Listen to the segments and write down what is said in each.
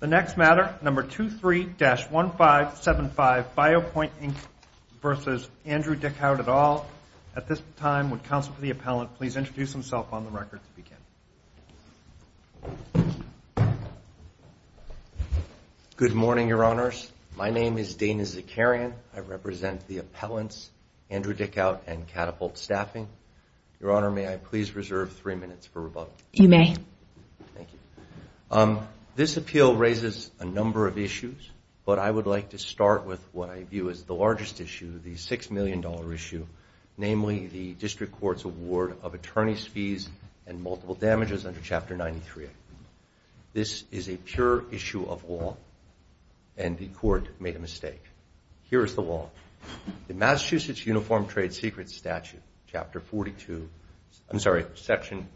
The next matter, number 23-1575, BioPoint, Inc. v. Andrew Dickhaut, et al. At this time, would counsel for the appellant please introduce himself on the record to begin. Good morning, Your Honors. My name is Dana Zakarian. I represent the appellants, Andrew Dickhaut and Catapult Staffing. Your Honor, may I please reserve three minutes for rebuttal? You may. This statute,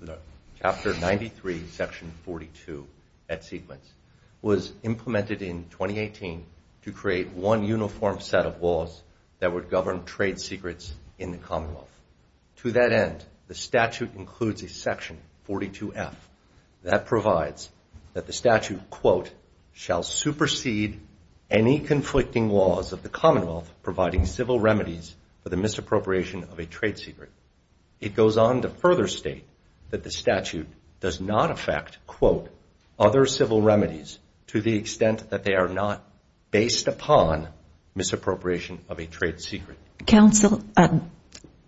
chapter 93, section 42 at sequence, was implemented in 2018 to create one uniform set of laws that would govern trade secrets in the Commonwealth. To that end, the statute includes a section 42F that provides that the statute, quote, shall supersede any conflicting laws of the Commonwealth providing civil remedies for the misappropriation of a trade secret. It goes on to further state that the statute does not affect, quote, other civil remedies to the extent that they are not based upon misappropriation of a trade secret. Counsel,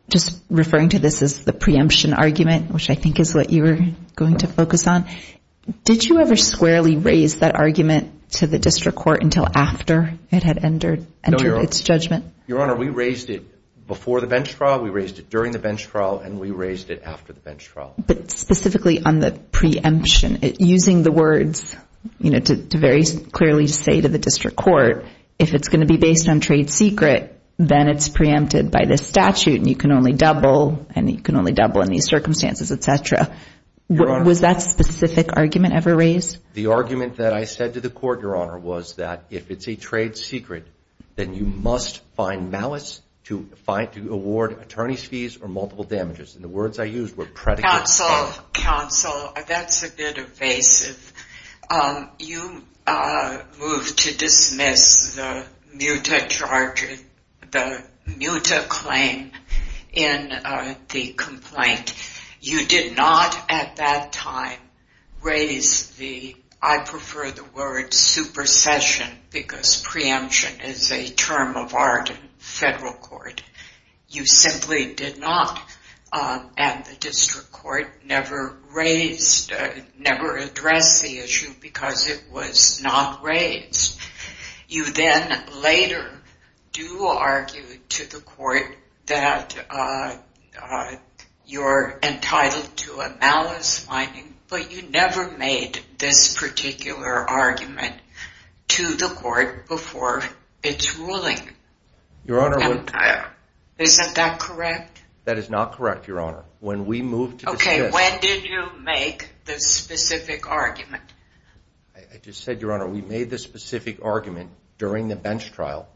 just referring to this as the preemption argument, which I think is what you were going to focus on, did you ever squarely raise that argument to the district court until after it had entered its judgment? Your Honor, we raised it before the bench trial, we raised it during the bench trial, and we raised it after the bench trial. But specifically on the preemption, using the words, you know, to very clearly say to the district court, if it's going to be based on trade secret, then it's preempted by this statute and you can only double and you can only double in these circumstances, etc. Was that specific argument ever raised? The argument that I said to the court, Your Honor, was that if it's a trade secret, then you must find malice to award attorney's fees or multiple damages. And the words I used were predicate. Counsel, counsel, that's a bit evasive. You moved to dismiss the Muta charge, the Muta claim in the complaint. You did not at that time raise the, I prefer the word, supercession, because preemption is a term of art in federal court. You simply did not, at the district court, never raised, never addressed the issue because it was not raised. You then later do argue to the court that your claim was not preempted. You were entitled to a malice finding, but you never made this particular argument to the court before its ruling. Isn't that correct? That is not correct, Your Honor. Okay, when did you make the specific argument? I just said, Your Honor, we made the specific argument during the bench trial,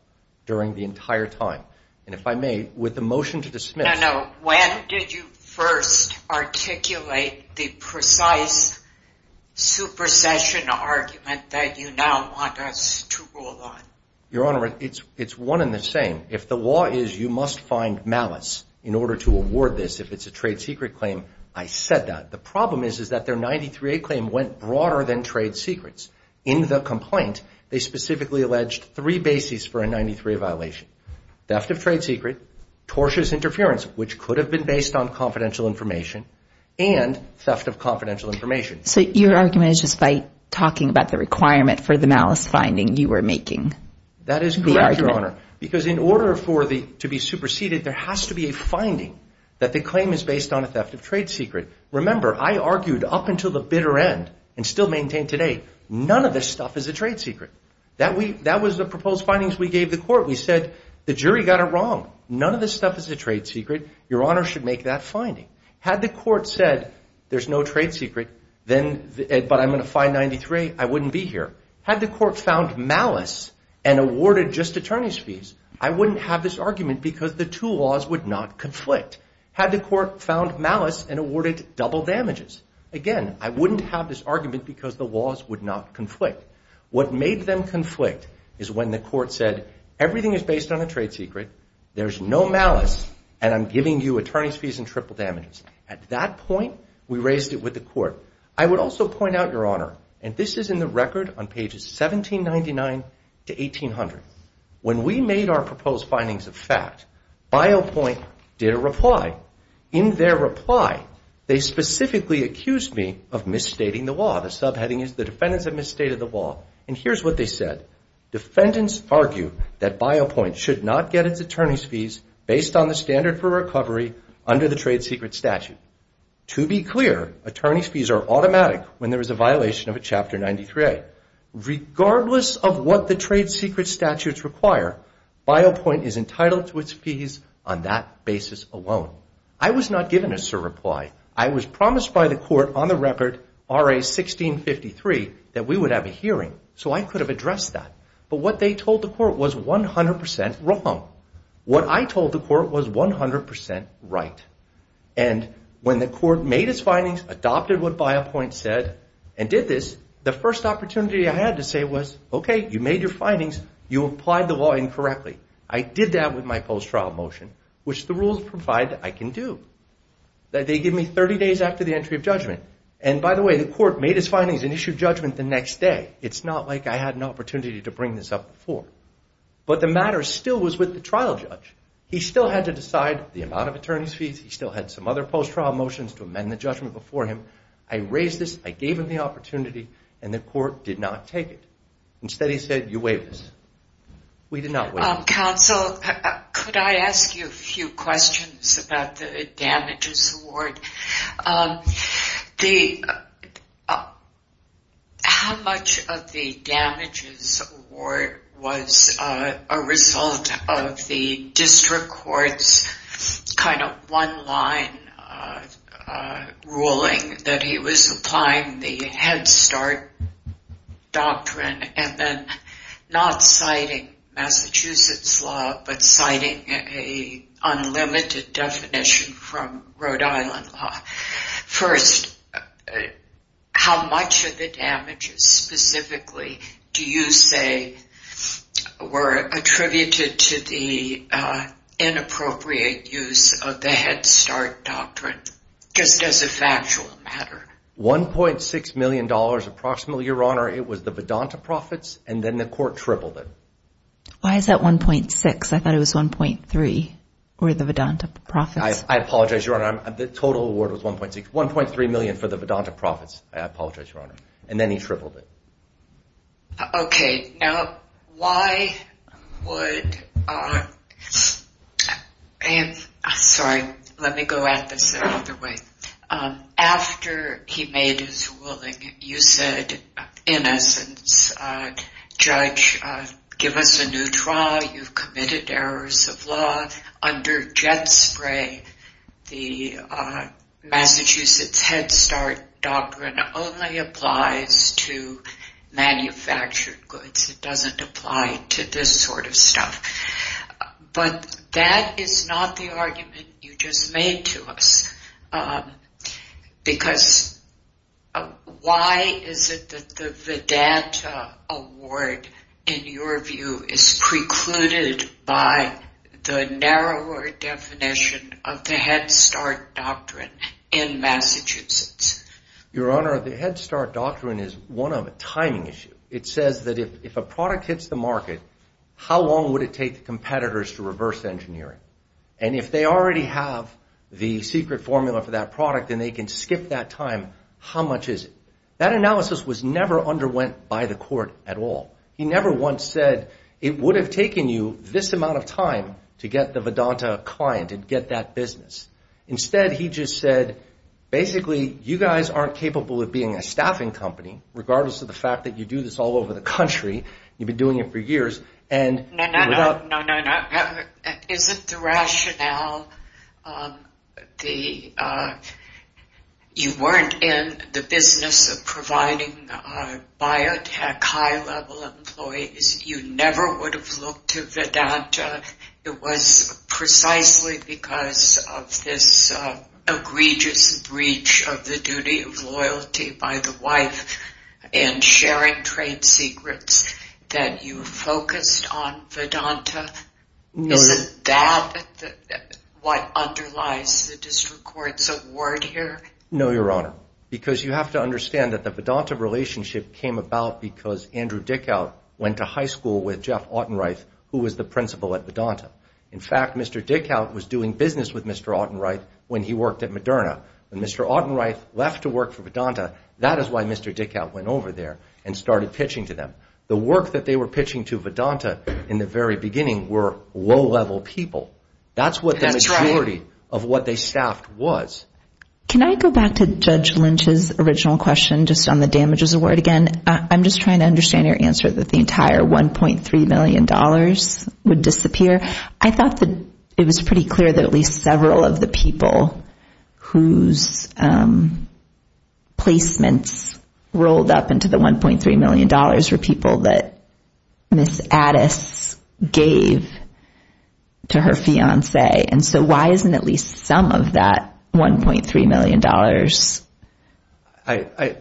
during the entire time. And if I may, with the motion to dismiss... No, no, when did you first articulate the precise supercession argument that you now want us to rule on? Your Honor, it's one and the same. If the law is you must find malice in order to award this, if it's a trade secret claim, I said that. The problem is that their 93A claim went broader than trade secrets. In the complaint, they specifically alleged three bases for a 93A violation. Theft of trade secret, tortious interference, which could have been based on confidential information, and theft of confidential information. So your argument is just by talking about the requirement for the malice finding you were making. That is correct, Your Honor, because in order to be superseded, there has to be a finding that the claim is based on a theft of trade secret. Remember, I argued up until the bitter end, and still maintain today, none of this stuff is a trade secret. That was the proposed findings we gave the court. We said, the jury got it wrong. None of this stuff is a trade secret. Your Honor should make that finding. Had the court said, there's no trade secret, but I'm going to find 93, I wouldn't be here. Had the court found malice and awarded just attorney's fees, I wouldn't have this argument because the two laws would not conflict. Had the court found malice and awarded double damages, again, I wouldn't have this argument because the laws would not conflict. What made them conflict is when the court said, everything is based on a trade secret, there's no malice, and I'm giving you attorney's fees and triple damages. At that point, we raised it with the court. I would also point out, Your Honor, and this is in the record on pages 1799 to 1800. When we made our proposed findings of fact, BioPoint did a reply. In their reply, they specifically accused me of misstating the law. The subheading is, the defendants have misstated the law, and here's what they said. Defendants argue that BioPoint should not get its attorney's fees based on the standard for recovery under the trade secret statute. To be clear, attorney's fees are automatic when there is a violation of a Chapter 93A. Regardless of what the trade secret statutes require, BioPoint is entitled to its fees on that basis alone. I was not given a sir reply. I was promised by the court on the record, RA 1653, that we would have a hearing, so I could have addressed that. But what they told the court was 100% wrong. What I told the court was 100% right. When the court made its findings, adopted what BioPoint said, and did this, the first opportunity I had to say was, okay, you made your findings, you applied the law incorrectly. I did that with my post-trial motion, which the rules provide that I can do. They give me 30 days after the entry of judgment. By the way, the court made its findings and issued judgment the next day. It's not like I had an opportunity to bring this up before. But the matter still was with the trial judge. He still had to decide the amount of attorney's fees, he still had some other post-trial motions to amend the judgment before him. I raised this, I gave him the opportunity, and the court did not take it. Instead he said, you waive this. We did not waive this. Counsel, could I ask you a few questions about the damages award? How much of the damages award was a result of the district court's kind of one-line ruling that he was applying the Head Start Doctrine and then not citing Massachusetts law, but citing an unlimited definition from Rhode Island law? First, how much of the damages specifically do you say were attributed to the inappropriate use of the Head Start Doctrine, just as a factual matter? $1.6 million approximately, Your Honor. It was the Vedanta profits, and then the court tripled it. Why is that 1.6? I thought it was 1.3 for the Vedanta profits. I apologize, Your Honor. The total award was 1.3 million for the Vedanta profits. I apologize, Your Honor. And then he tripled it. Okay. Now, why would... Sorry. Let me go at this another way. After he made his ruling, you said, in essence, Judge, give us a new trial. You've committed errors of law. Under Jet Spray, the Massachusetts Head Start Doctrine only applies to manufactured goods. It doesn't apply to this sort of stuff. But that is not the argument you just made to us, because why is it that the Vedanta award, in your view, is precluded by the narrower definition of the Head Start Doctrine in Massachusetts? Your Honor, the Head Start Doctrine is one of a timing issue. It says that if a product hits the market, how long would it take the competitors to reverse engineering? And if they already have the secret formula for that product and they can skip that time, how much is it? That analysis was never underwent by the court at all. He never once said, it would have taken you this amount of time to get the Vedanta client and get that business. Instead, he just said, basically, you guys aren't capable of being a staffing company, regardless of the fact that you do this all over the country. You've been doing it for years. No, no, no. Isn't the rationale... You weren't in the business of providing biotech high-level employees. You never would have looked to Vedanta. It was precisely because of this egregious breach of the duty of loyalty by the wife and sharing trade secrets that you focused on Vedanta? Isn't that what underlies the district court's award here? No, Your Honor. Because you have to understand that the Vedanta relationship came about because Andrew Dickow went to high school with Jeff Ottenreuth, who was the principal at Vedanta. In fact, Mr. Dickow was doing business with Mr. Ottenreuth when he worked at Moderna. When Mr. Ottenreuth left to work for Vedanta, that is why Mr. Dickow went over there and started pitching to them. The work that they were pitching to Vedanta in the very beginning were low-level people. That's what the majority of what they staffed was. Can I go back to Judge Lynch's original question just on the damages award again? I'm just trying to understand your answer that the entire $1.3 million would disappear. I thought that it was pretty clear that at least several of the people whose placements rolled up into the $1.3 million were people that Ms. Addis gave to her fiancé. Why isn't at least some of that $1.3 million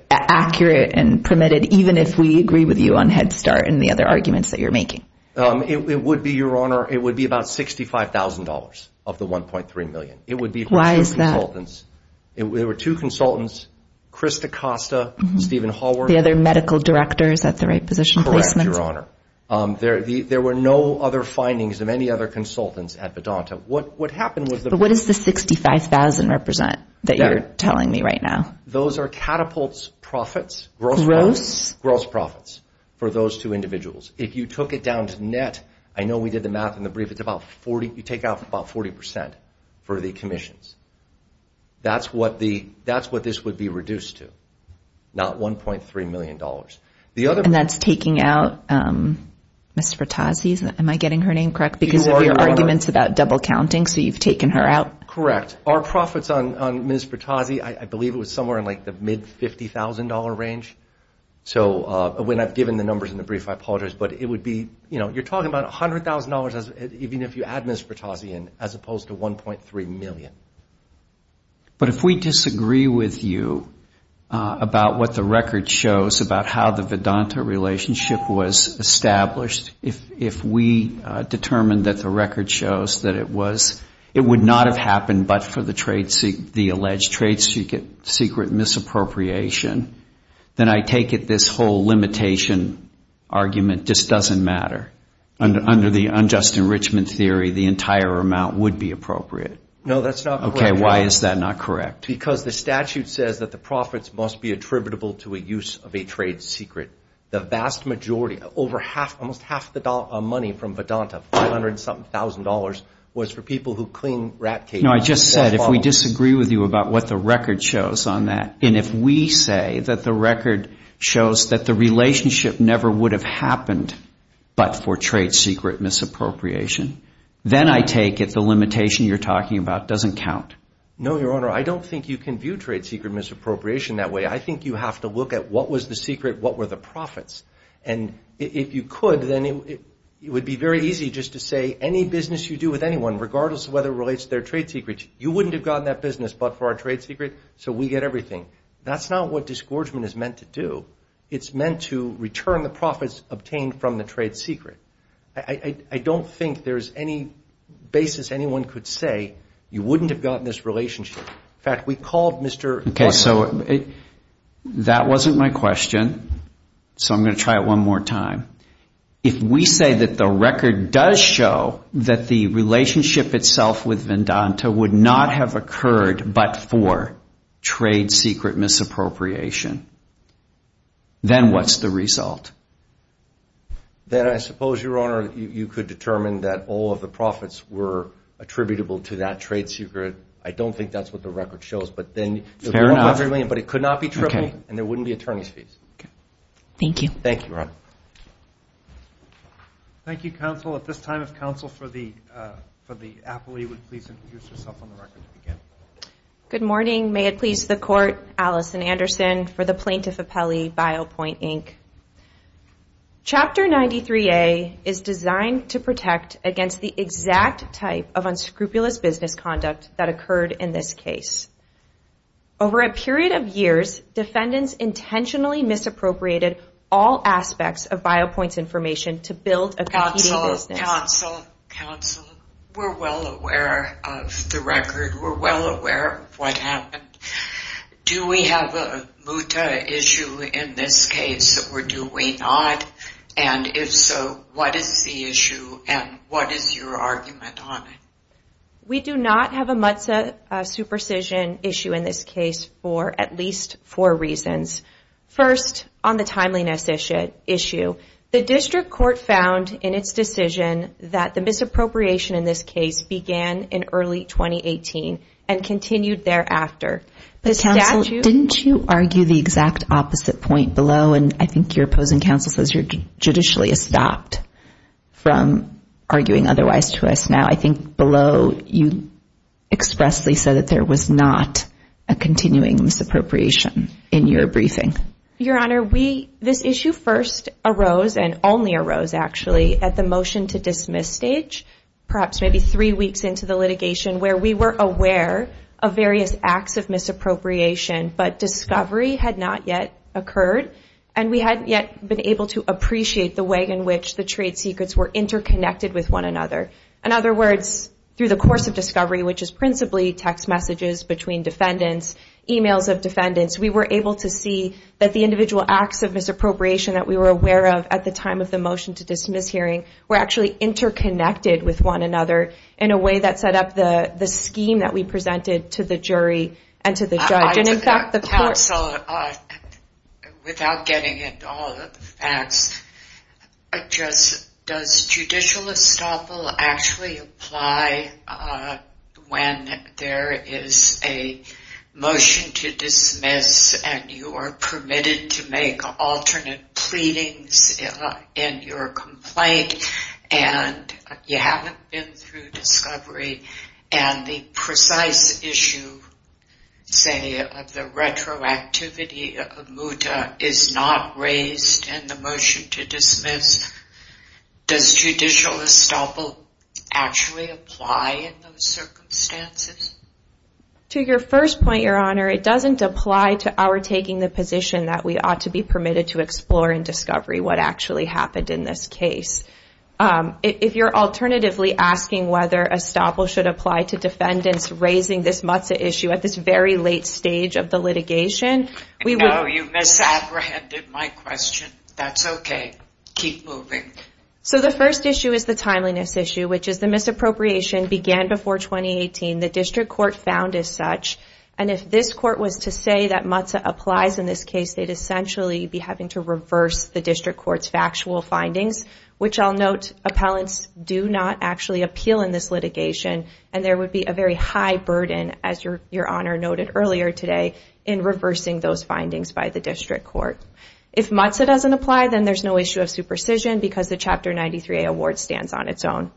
accurate and permitted, even if we agree with you on Head Start and the other arguments that you're making? It would be, Your Honor, it would be about $65,000 of the $1.3 million. Why is that? There were two consultants, Chris DaCosta and Stephen Hallward. The other medical directors at the right position placements? Correct, Your Honor. There were no other findings of any other consultants at Vedanta. But what does the $65,000 represent that you're telling me right now? Those are catapults gross profits for those two individuals. If you took it down to net, I know we did the math in the brief, you take out about 40% for the commissions. That's what this would be reduced to, not $1.3 million. And that's taking out Ms. Fertazzi? Am I getting her name correct? Because of your arguments about double counting, so you've taken her out? Correct. Our profits on Ms. Fertazzi, I believe it was somewhere in the mid $50,000 range. When I've given the numbers in the brief, I apologize, but it would be, you're talking about $100,000 even if you add Ms. Fertazzi in, as opposed to $1.3 million. But if we disagree with you about what the record shows about how the Vedanta relationship shows that it was, it would not have happened but for the alleged trade secret secret misappropriation, then I take it this whole limitation argument just doesn't matter. Under the unjust enrichment theory, the entire amount would be appropriate. No, that's not correct. Okay, why is that not correct? Because the statute says that the profits must be attributable to a use of a trade secret. The vast majority, almost half the money from Vedanta, $500,000 was for people who clean rat cages. No, I just said, if we disagree with you about what the record shows on that, and if we say that the record shows that the relationship never would have happened but for trade secret misappropriation, then I take it the limitation you're talking about doesn't count. No, Your Honor, I don't think you can view trade secret misappropriation that way. I think you have to look at what was the secret, what were the profits. And if you could, then it would be very easy just to say any business you do with anyone, regardless of whether it relates to their trade secret, you wouldn't have gotten that business but for our trade secret, so we get everything. That's not what disgorgement is meant to do. It's meant to return the profits obtained from the trade secret. I don't think there's any basis anyone could say you wouldn't have gotten this relationship. In fact, we called Mr. Okay, so that wasn't my question, so I'm going to try it one more time. If we say that the record does show that the relationship itself with Vedanta would not have occurred but for trade secret misappropriation, then what's the result? Then I suppose, Your Honor, you could determine that all of the profits were attributable to that trade secret. I don't think that's what the record shows. Fair enough. But it could not be tripled and there wouldn't be attorney's fees. Thank you. Thank you, Your Honor. Thank you, counsel. At this time, if counsel for the appellee would please introduce herself on the record to begin. Good morning. May it please the court, Alison Anderson for the Plaintiff Appellee, Biopoint, Inc. Chapter 93A is designed to protect against the exact type of unscrupulous business conduct that occurred in this case. Over a period of years, defendants intentionally misappropriated all aspects of Biopoint's information to build a competing business. Counsel, we're well aware of the record. We're well aware of what happened. Do we have a MUTA issue in this case or do we not? And if so, what is the issue and what is your argument on it? We do not have a MUTA supercision issue in this case for at least four reasons. First, on the timeliness issue, the district court found in its decision that the misappropriation in this case began in early 2018 and continued thereafter. But counsel, didn't you argue the exact opposite point below? And I think your opposing counsel says you're judicially stopped from arguing otherwise to us now. I think below you expressly said that there was not a continuing misappropriation in your case. We were aware of various acts of misappropriation, but discovery had not yet occurred and we hadn't yet been able to appreciate the way in which the trade secrets were interconnected with one another. In other words, through the course of discovery, which is principally text messages between defendants, emails of defendants, we were able to see that the individual acts of misappropriation that we were aware of at the time of the dismiss hearing were actually interconnected with one another in a way that set up the scheme that we presented to the jury and to the judge. And in fact, the court... Counsel, without getting into all of the facts, does judicial estoppel actually apply when there is a motion to dismiss and you are permitted to make alternate pleadings in your complaint and you haven't been through discovery and the precise issue, say, of the retroactivity of Muta is not raised in the motion to dismiss? Does judicial estoppel actually apply in those circumstances? To your first point, Your Honor, it doesn't apply to our taking the position that we were in discovery, what actually happened in this case. If you're alternatively asking whether estoppel should apply to defendants raising this Muta issue at this very late stage of the litigation, we would... No, you misapprehended my question. That's okay. Keep moving. So the first issue is the timeliness issue, which is the misappropriation began before 2018. The district court found as such, and if this court was to say that Muta applies in this case, they'd essentially be having to reverse the district court's factual findings, which I'll note appellants do not actually appeal in this litigation and there would be a very high burden, as Your Honor noted earlier today, in reversing those findings by the district court. If Muta doesn't apply, then there's no issue of superstition because the Chapter 93A award stands on its own.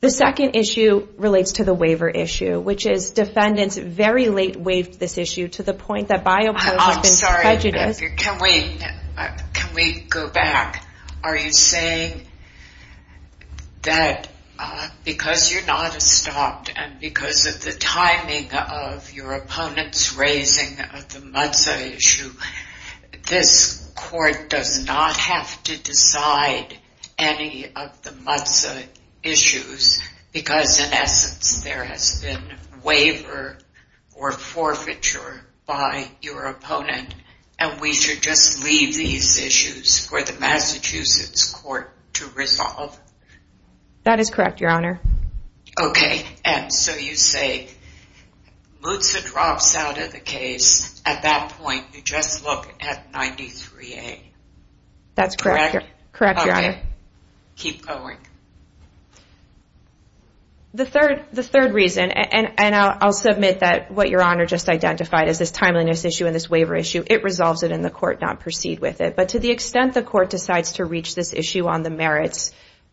The second issue relates to the waiver issue, which is defendants very late waived this issue to the point that biopause has been prejudiced. I'm sorry. Can we go back? Are you saying that because you're not estopped and because of the timing of your opponents raising the Muta issue, this court does not have to decide any of the Muta issues because in essence there has been waiver or forfeiture by your opponent and we should just leave these issues for the Massachusetts court to resolve? That is correct, Your Honor. Okay. And so you say Muta drops out of the case. At that point, you just look at 93A. That's correct, Your Honor. The third reason, and I'll submit that what Your Honor just identified is this timeliness issue and this waiver issue. It resolves it and the court does not proceed with it. But to the extent the court decides to reach this issue on the merits,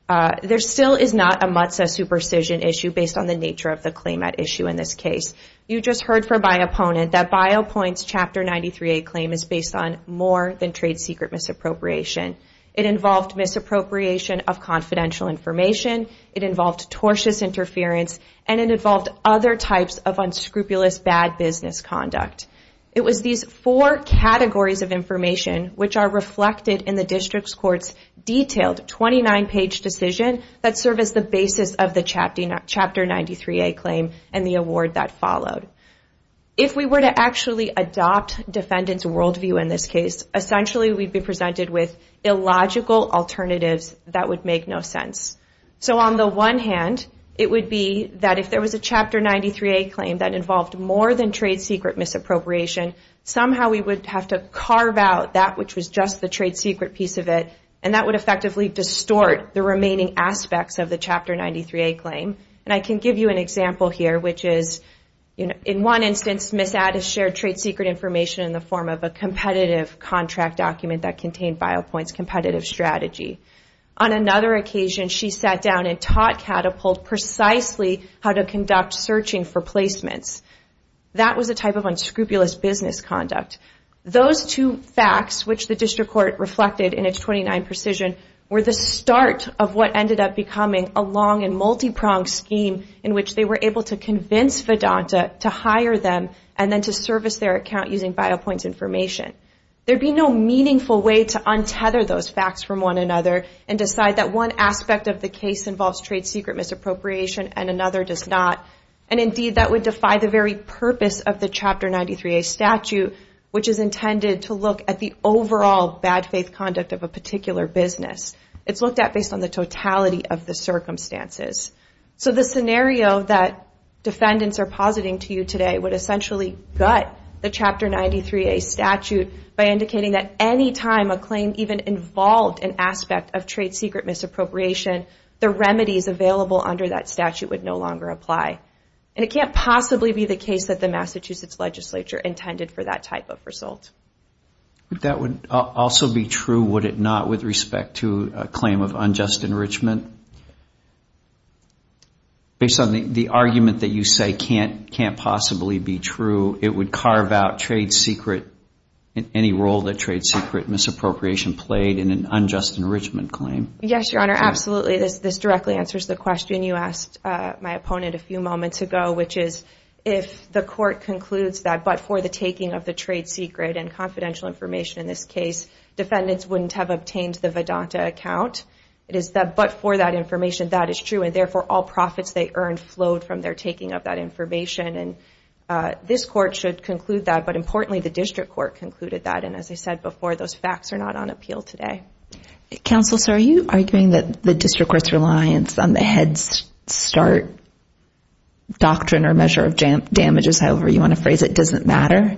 there still is not a Muta superstition issue based on the nature of the claim at issue in this case. You just heard from my opponent that Biopoint's Chapter 93A claim is based on more than trade secret misappropriation. It involved misappropriation of confidential information, it involved tortuous interference, and it involved other types of unscrupulous bad business conduct. It was these four categories of information which are reflected in the district's court's detailed 29-page decision that serve as the basis of the Chapter 93A claim and the award that followed. If we were to actually adopt defendant's worldview in this case, essentially we'd be presented with illogical alternatives that would make no sense. So on the one hand, it would be that if there was a Chapter 93A claim that involved more than trade secret misappropriation, somehow we would have to carve out that which was just the trade secret piece of it, and that would effectively distort the remaining aspects of the Chapter 93A claim. And I can give you an example here, which is in one instance, Ms. Addis shared trade secret information in the form of a competitive contract document that contained Biopoint's competitive strategy. On another occasion, she sat down and taught Catapult precisely how to conduct searching for placements. That was a type of unscrupulous business conduct. Those two facts, which the district court reflected in its 29 page decision, were the start of what ended up becoming a long and multi-pronged scheme in which they were able to convince Vedanta to hire them and then to service their account using Biopoint's information. There'd be no meaningful way to untether those facts from one another and decide that one aspect of the case involves trade secret misappropriation and another does not. And indeed, that would defy the very purpose of the Chapter 93A statute, which is intended to look at the overall bad faith conduct of a particular business. It's looked at based on the totality of the circumstances. So the scenario that defendants are positing to you today would essentially gut the Chapter 93A statute by indicating that any time a claim even involved an aspect of trade secret misappropriation, the remedies available under that statute would no longer apply. And it can't possibly be the case that the Massachusetts legislature intended for that type of result. But that would also be true, would it not, with respect to a claim of unjust enrichment? Based on the argument that you say can't possibly be true, it would carve out trade secret, any role that trade secret misappropriation played in an unjust enrichment claim? Yes, Your Honor, absolutely. This directly answers the question you asked my opponent a few moments ago, which is if the court concludes that but for the taking of the trade secret and confidential information in this case, defendants wouldn't have obtained the Vedanta account. It is that but for that information that is true and therefore all profits they earned flowed from their taking of that information. And this court should conclude that. But importantly, the district court concluded that. And as I said before, those facts are not on appeal today. Counsel, so are you arguing that the district court's reliance on the Head Start doctrine or measure of damages, however you want to phrase it, doesn't matter?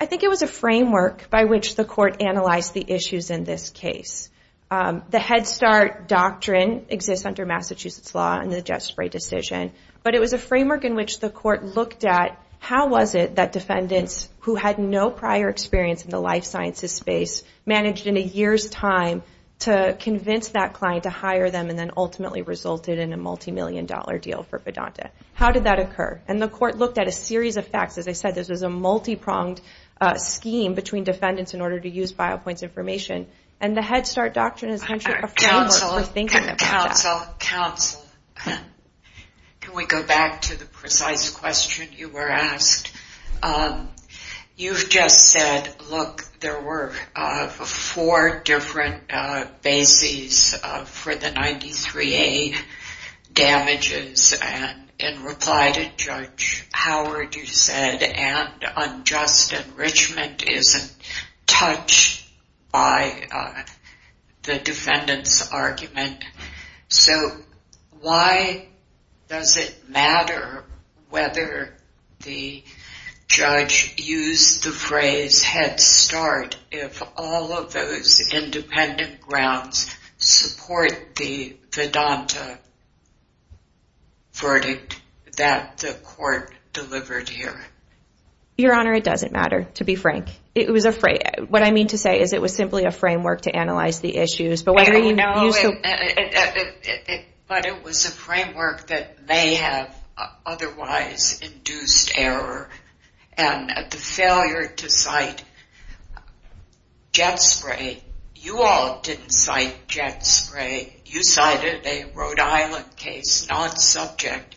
I think it was a framework by which the court analyzed the issues in this case. The Head Start doctrine exists under Massachusetts law and the Jesperi decision. But it was a framework in which the court looked at how was it that defendants who had no prior experience in the life sciences space managed in a year's time to convince that client to hire them and then ultimately resulted in a multimillion dollar deal for Vedanta? How did that occur? And the court looked at a series of facts. As I said, this was a multi-pronged scheme between defendants in order to use BioPoint's information. And the Head Start doctrine is essentially a framework for thinking about that. Counsel, counsel, counsel, can we go back to the precise question you were asked? You've just said, look, there were four different bases for the 93A damages. And in reply to Judge Howard, you said, and unjust enrichment isn't touched by the defendants' argument. So why does it matter whether the defendants' argument is true or not? Judge, use the phrase Head Start if all of those independent grounds support the Vedanta verdict that the court delivered here. Your Honor, it doesn't matter, to be frank. What I mean to say is it was simply a framework to analyze the issues. But it was a framework that may have otherwise induced error. And the failure to cite Jet Spray, you all didn't cite Jet Spray. You cited a Rhode Island case not subject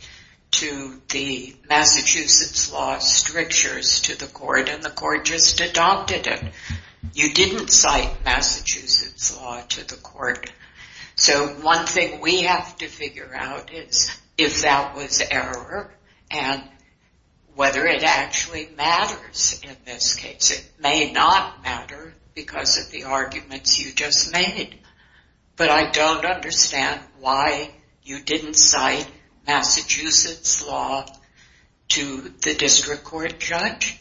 to the Massachusetts law strictures to the court, and the court just adopted it. You didn't cite Massachusetts law to the court. So one thing we have to figure out is if that was error and whether it actually matters in this case. It may not matter because of the arguments you just made. But I don't understand why you didn't cite Massachusetts law to the district court judge.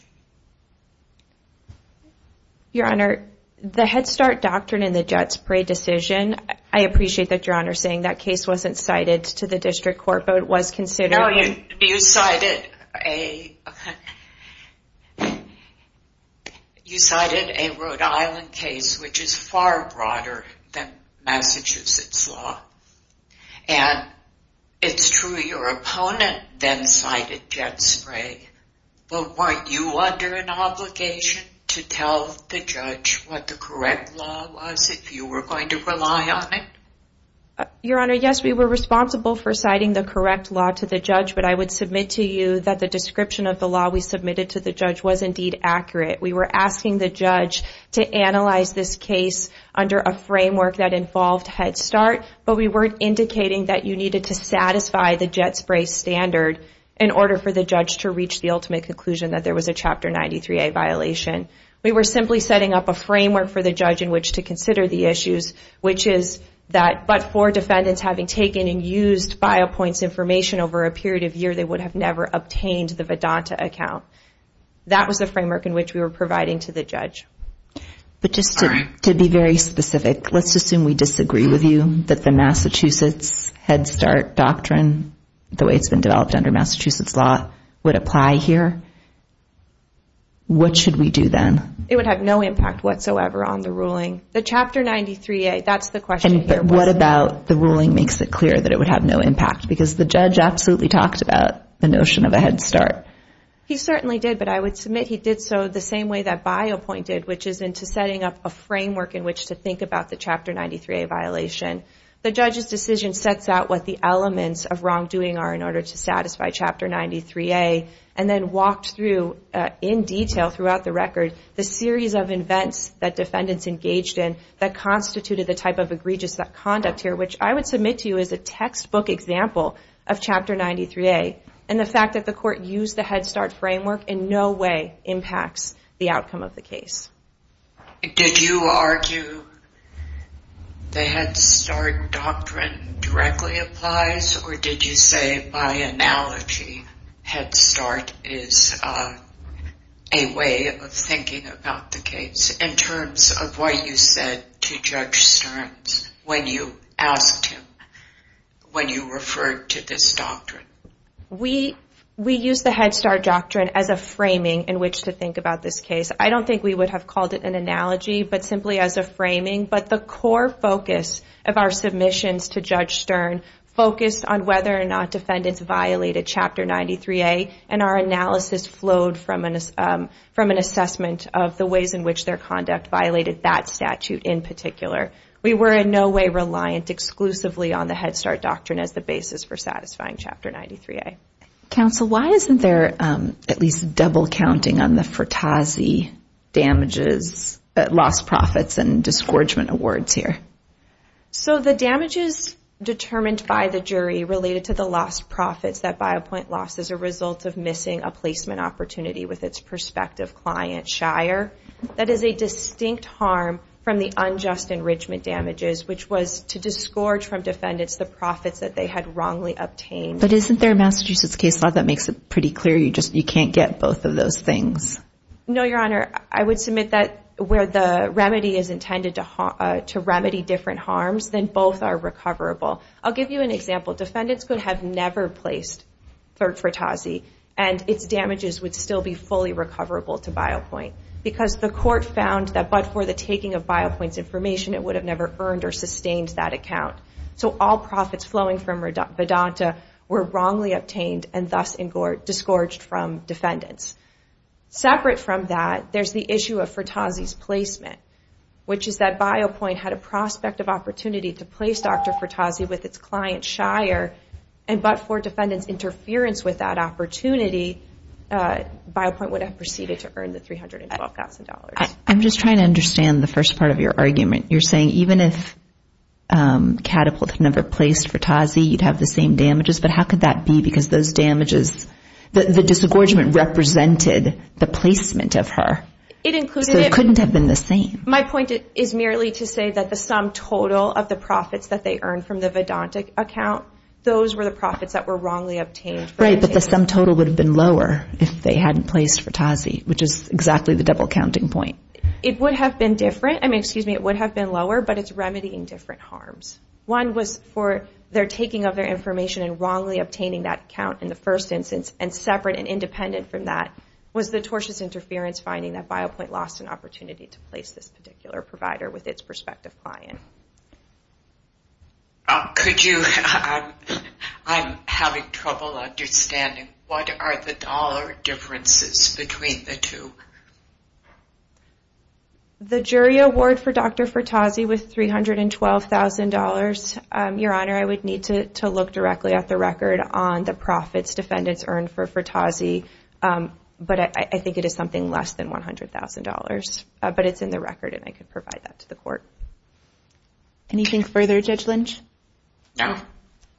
Your Honor, the Head Start doctrine in the Jet Spray decision, I appreciate that Your Honor is saying that case wasn't cited to the district court, but it was considered. No, you cited a Rhode Island case which is far broader than Massachusetts law. And it's true your opponent then cited Jet Spray. But weren't you under an obligation to tell the judge what the correct law was if you were going to rely on it? Your Honor, yes, we were responsible for citing the correct law to the judge. But I would submit to you that the description of the law we submitted to the judge was indeed accurate. We were asking the judge to analyze this case under a framework that involved Head Start. But we weren't indicating that you needed to satisfy the Jet Spray standard in order for the judge to reach the ultimate conclusion that there was a Chapter 93A violation. We were simply setting up a framework for the judge in which to consider the issues, which is that but for defendants having taken and used BioPoint's information over a period of year, they would have never obtained the Vedanta account. That was the framework in which we were providing to the judge. So you're saying that the Massachusetts Head Start doctrine, the way it's been developed under Massachusetts law, would apply here? What should we do then? It would have no impact whatsoever on the ruling. The Chapter 93A, that's the question here. What about the ruling makes it clear that it would have no impact? Because the judge absolutely talked about the notion of a Head Start. He certainly did, but I would submit he did so the same way that BioPoint did, which is into setting up a framework in which to think about the Chapter 93A violation. The judge's decision sets out what the elements of wrongdoing are in order to satisfy Chapter 93A, and then walked through in detail throughout the record the series of events that defendants engaged in that constituted the type of egregious conduct here, which I would submit to you as a textbook example of Chapter 93A, and the fact that the court used the Head Start framework in no way impacts the outcome of the case. Did you argue the Head Start doctrine directly applies, or did you say by analogy Head Start is a way of thinking about the case in terms of what you said to Judge Stern when you asked him when you referred to this doctrine? We used the Head Start doctrine as a framing in which to think about this case. I don't think we would have called it an analogy, but simply as a framing. But the core focus of our submissions to Judge Stern focused on whether or not defendants violated Chapter 93A, and our analysis flowed from an assessment of the ways in which their conduct violated that statute in particular. We were in no way reliant exclusively on the Head Start doctrine as the basis for satisfying Chapter 93A. Counsel, why isn't there at least double counting on the Fertazzi damages, lost profits and disgorgement awards here? So the damages determined by the jury related to the lost profits that Biopoint lost as a result of missing a placement opportunity with its prospective client, Shire, that is a distinct harm from the unjust enrichment damages, which was to disgorge from defendants the profits that they had wrongly obtained. But isn't there a Massachusetts case law that makes it pretty clear you can't get both of those things? No, Your Honor. I would submit that where the remedy is intended to remedy different harms, then both are recoverable. I'll give you an example. Defendants could have never placed third Fertazzi and its damages would still be fully recoverable to Biopoint because the court found that but for the taking of Biopoint's information, it would have never earned or sustained that account. So all profits flowing from Vedanta were wrongly obtained and thus disgorged from defendants. Separate from that, there's the issue of Fertazzi's placement, which is that Biopoint had a prospective opportunity to place Dr. Fertazzi with its client, Shire, and but for defendants' interference with that opportunity, Biopoint would have proceeded to earn the $312,000. I'm just trying to understand the first part of your argument. You're saying even if Catapult had never placed Fertazzi, you'd have the same damages, but how could that be because the disgorgement represented the placement of her. It couldn't have been the same. My point is merely to say that the sum total of the profits that they earned from the Vedanta account, those were the profits that were wrongly obtained. Right, but the sum total would have been lower if they hadn't placed Fertazzi, which is exactly the double-counting point. It would have been lower, but it's remedying different harms. One was for their taking of their information and wrongly obtaining that account in the first instance, and separate and independent from that was the tortious interference finding that Biopoint lost an opportunity to place this particular provider with its prospective client. I'm having trouble understanding. What are the dollar differences between the two? The jury award for Dr. Fertazzi was $312,000. Your Honor, I would need to look directly at the record on the profits defendants earned for Fertazzi, but I think it is something less than $100,000, but it's in the record, and I could provide that to the court. Anything further, Judge Lynch? No.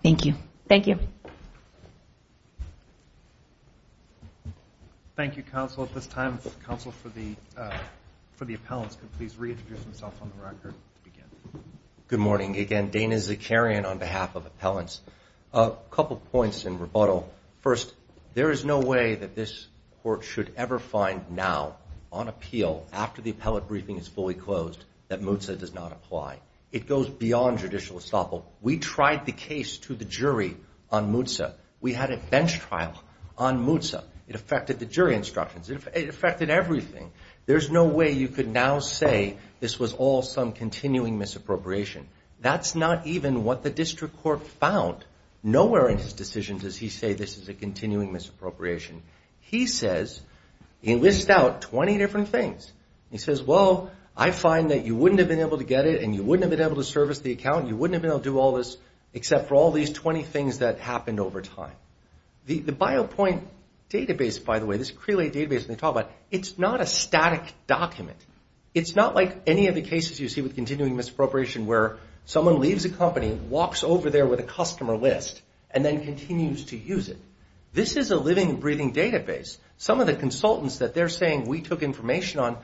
Thank you. Thank you, Counsel. At this time, the Counsel for the Appellants can please reintroduce himself on the record to begin. Good morning. Again, Dana Zakarian on behalf of Appellants. A couple points in rebuttal. First, there is no way that this Court should ever find now on appeal, after the appellate briefing is fully closed, that MUTSA does not apply. It goes beyond judicial estoppel. We tried the case to the jury on MUTSA. We had a bench trial on MUTSA. It affected the jury instructions. It affected everything. There's no way you could now say this was all some continuing misappropriation. That's not even what the District Court found. Nowhere in his decision does he say this is a continuing misappropriation. He says, he lists out 20 different things. He says, well, I find that you wouldn't have been able to get it and you wouldn't have been able to service the account. You wouldn't have been able to do all this except for all these 20 things that happened over time. The BioPoint database, by the way, this Crelate database they talk about, it's not a static document. It's not like any of the cases you see with continuing misappropriation where someone leaves a company, walks over there with a customer list, and then continues to use it. This is a living, breathing database. Some of the consultants that they're saying we took information on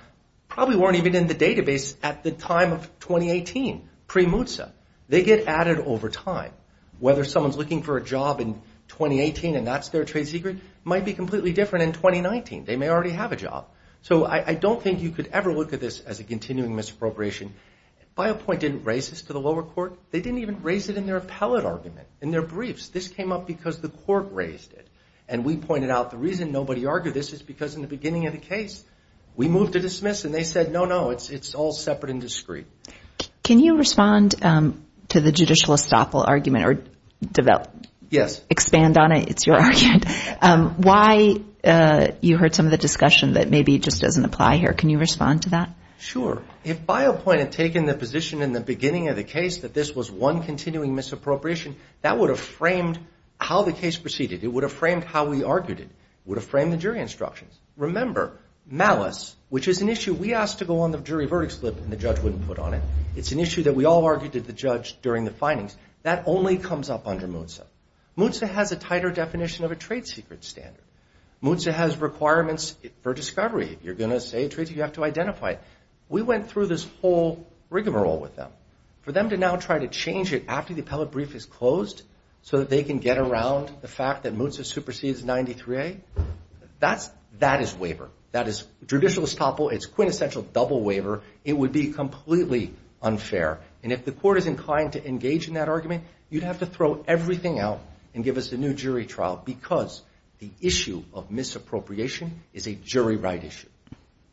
probably weren't even in the database at the time of 2018 pre-MUTSA. They get added over time. Whether someone's looking for a job in 2018 and that's their trade secret might be completely different in 2019. They may already have a job. So I don't think you could ever look at this as a continuing misappropriation. BioPoint didn't raise this to the lower court. They didn't even raise it in their appellate argument, in their briefs. This came up because the court raised it. And we pointed out the reason nobody argued this is because in the beginning of the case we moved to dismiss and they said, no, no, it's all separate and discreet. Can you respond to the judicial estoppel argument or expand on it? It's your argument. Why you heard some of the discussion that maybe just doesn't apply here. Sure. If BioPoint had taken the position in the beginning of the case that this was one continuing misappropriation, that would have framed how the case proceeded. It would have framed how we argued it. It would have framed the jury instructions. Remember, malice, which is an issue we asked to go on the jury verdict slip and the judge wouldn't put on it. It's an issue that we all argued to the judge during the findings. That only comes up under MUTSA. MUTSA has a tighter definition of a trade secret standard. MUTSA has requirements for discovery. You're going to say a trade secret, you have to identify it. If the court is inclined to engage in that argument, you'd have to throw everything out and give us a new jury trial. Because the issue of misappropriation is a jury right issue.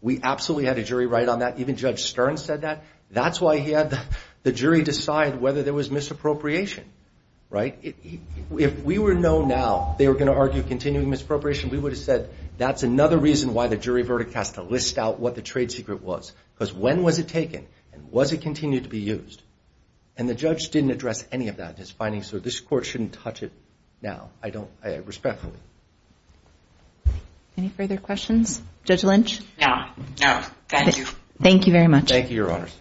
We absolutely had a jury right on that. Even Judge Stern said that. That's why he had the jury decide whether there was misappropriation. If we were known now they were going to argue continuing misappropriation, we would have said that's another reason why the jury verdict has to list out what the trade secret was. Because when was it taken and was it continued to be used? And the judge didn't address any of that in his findings, so this court shouldn't touch it now, respectfully. Any further questions? Judge Lynch? No, thank you. Thank you very much. Thank you, Your Honors.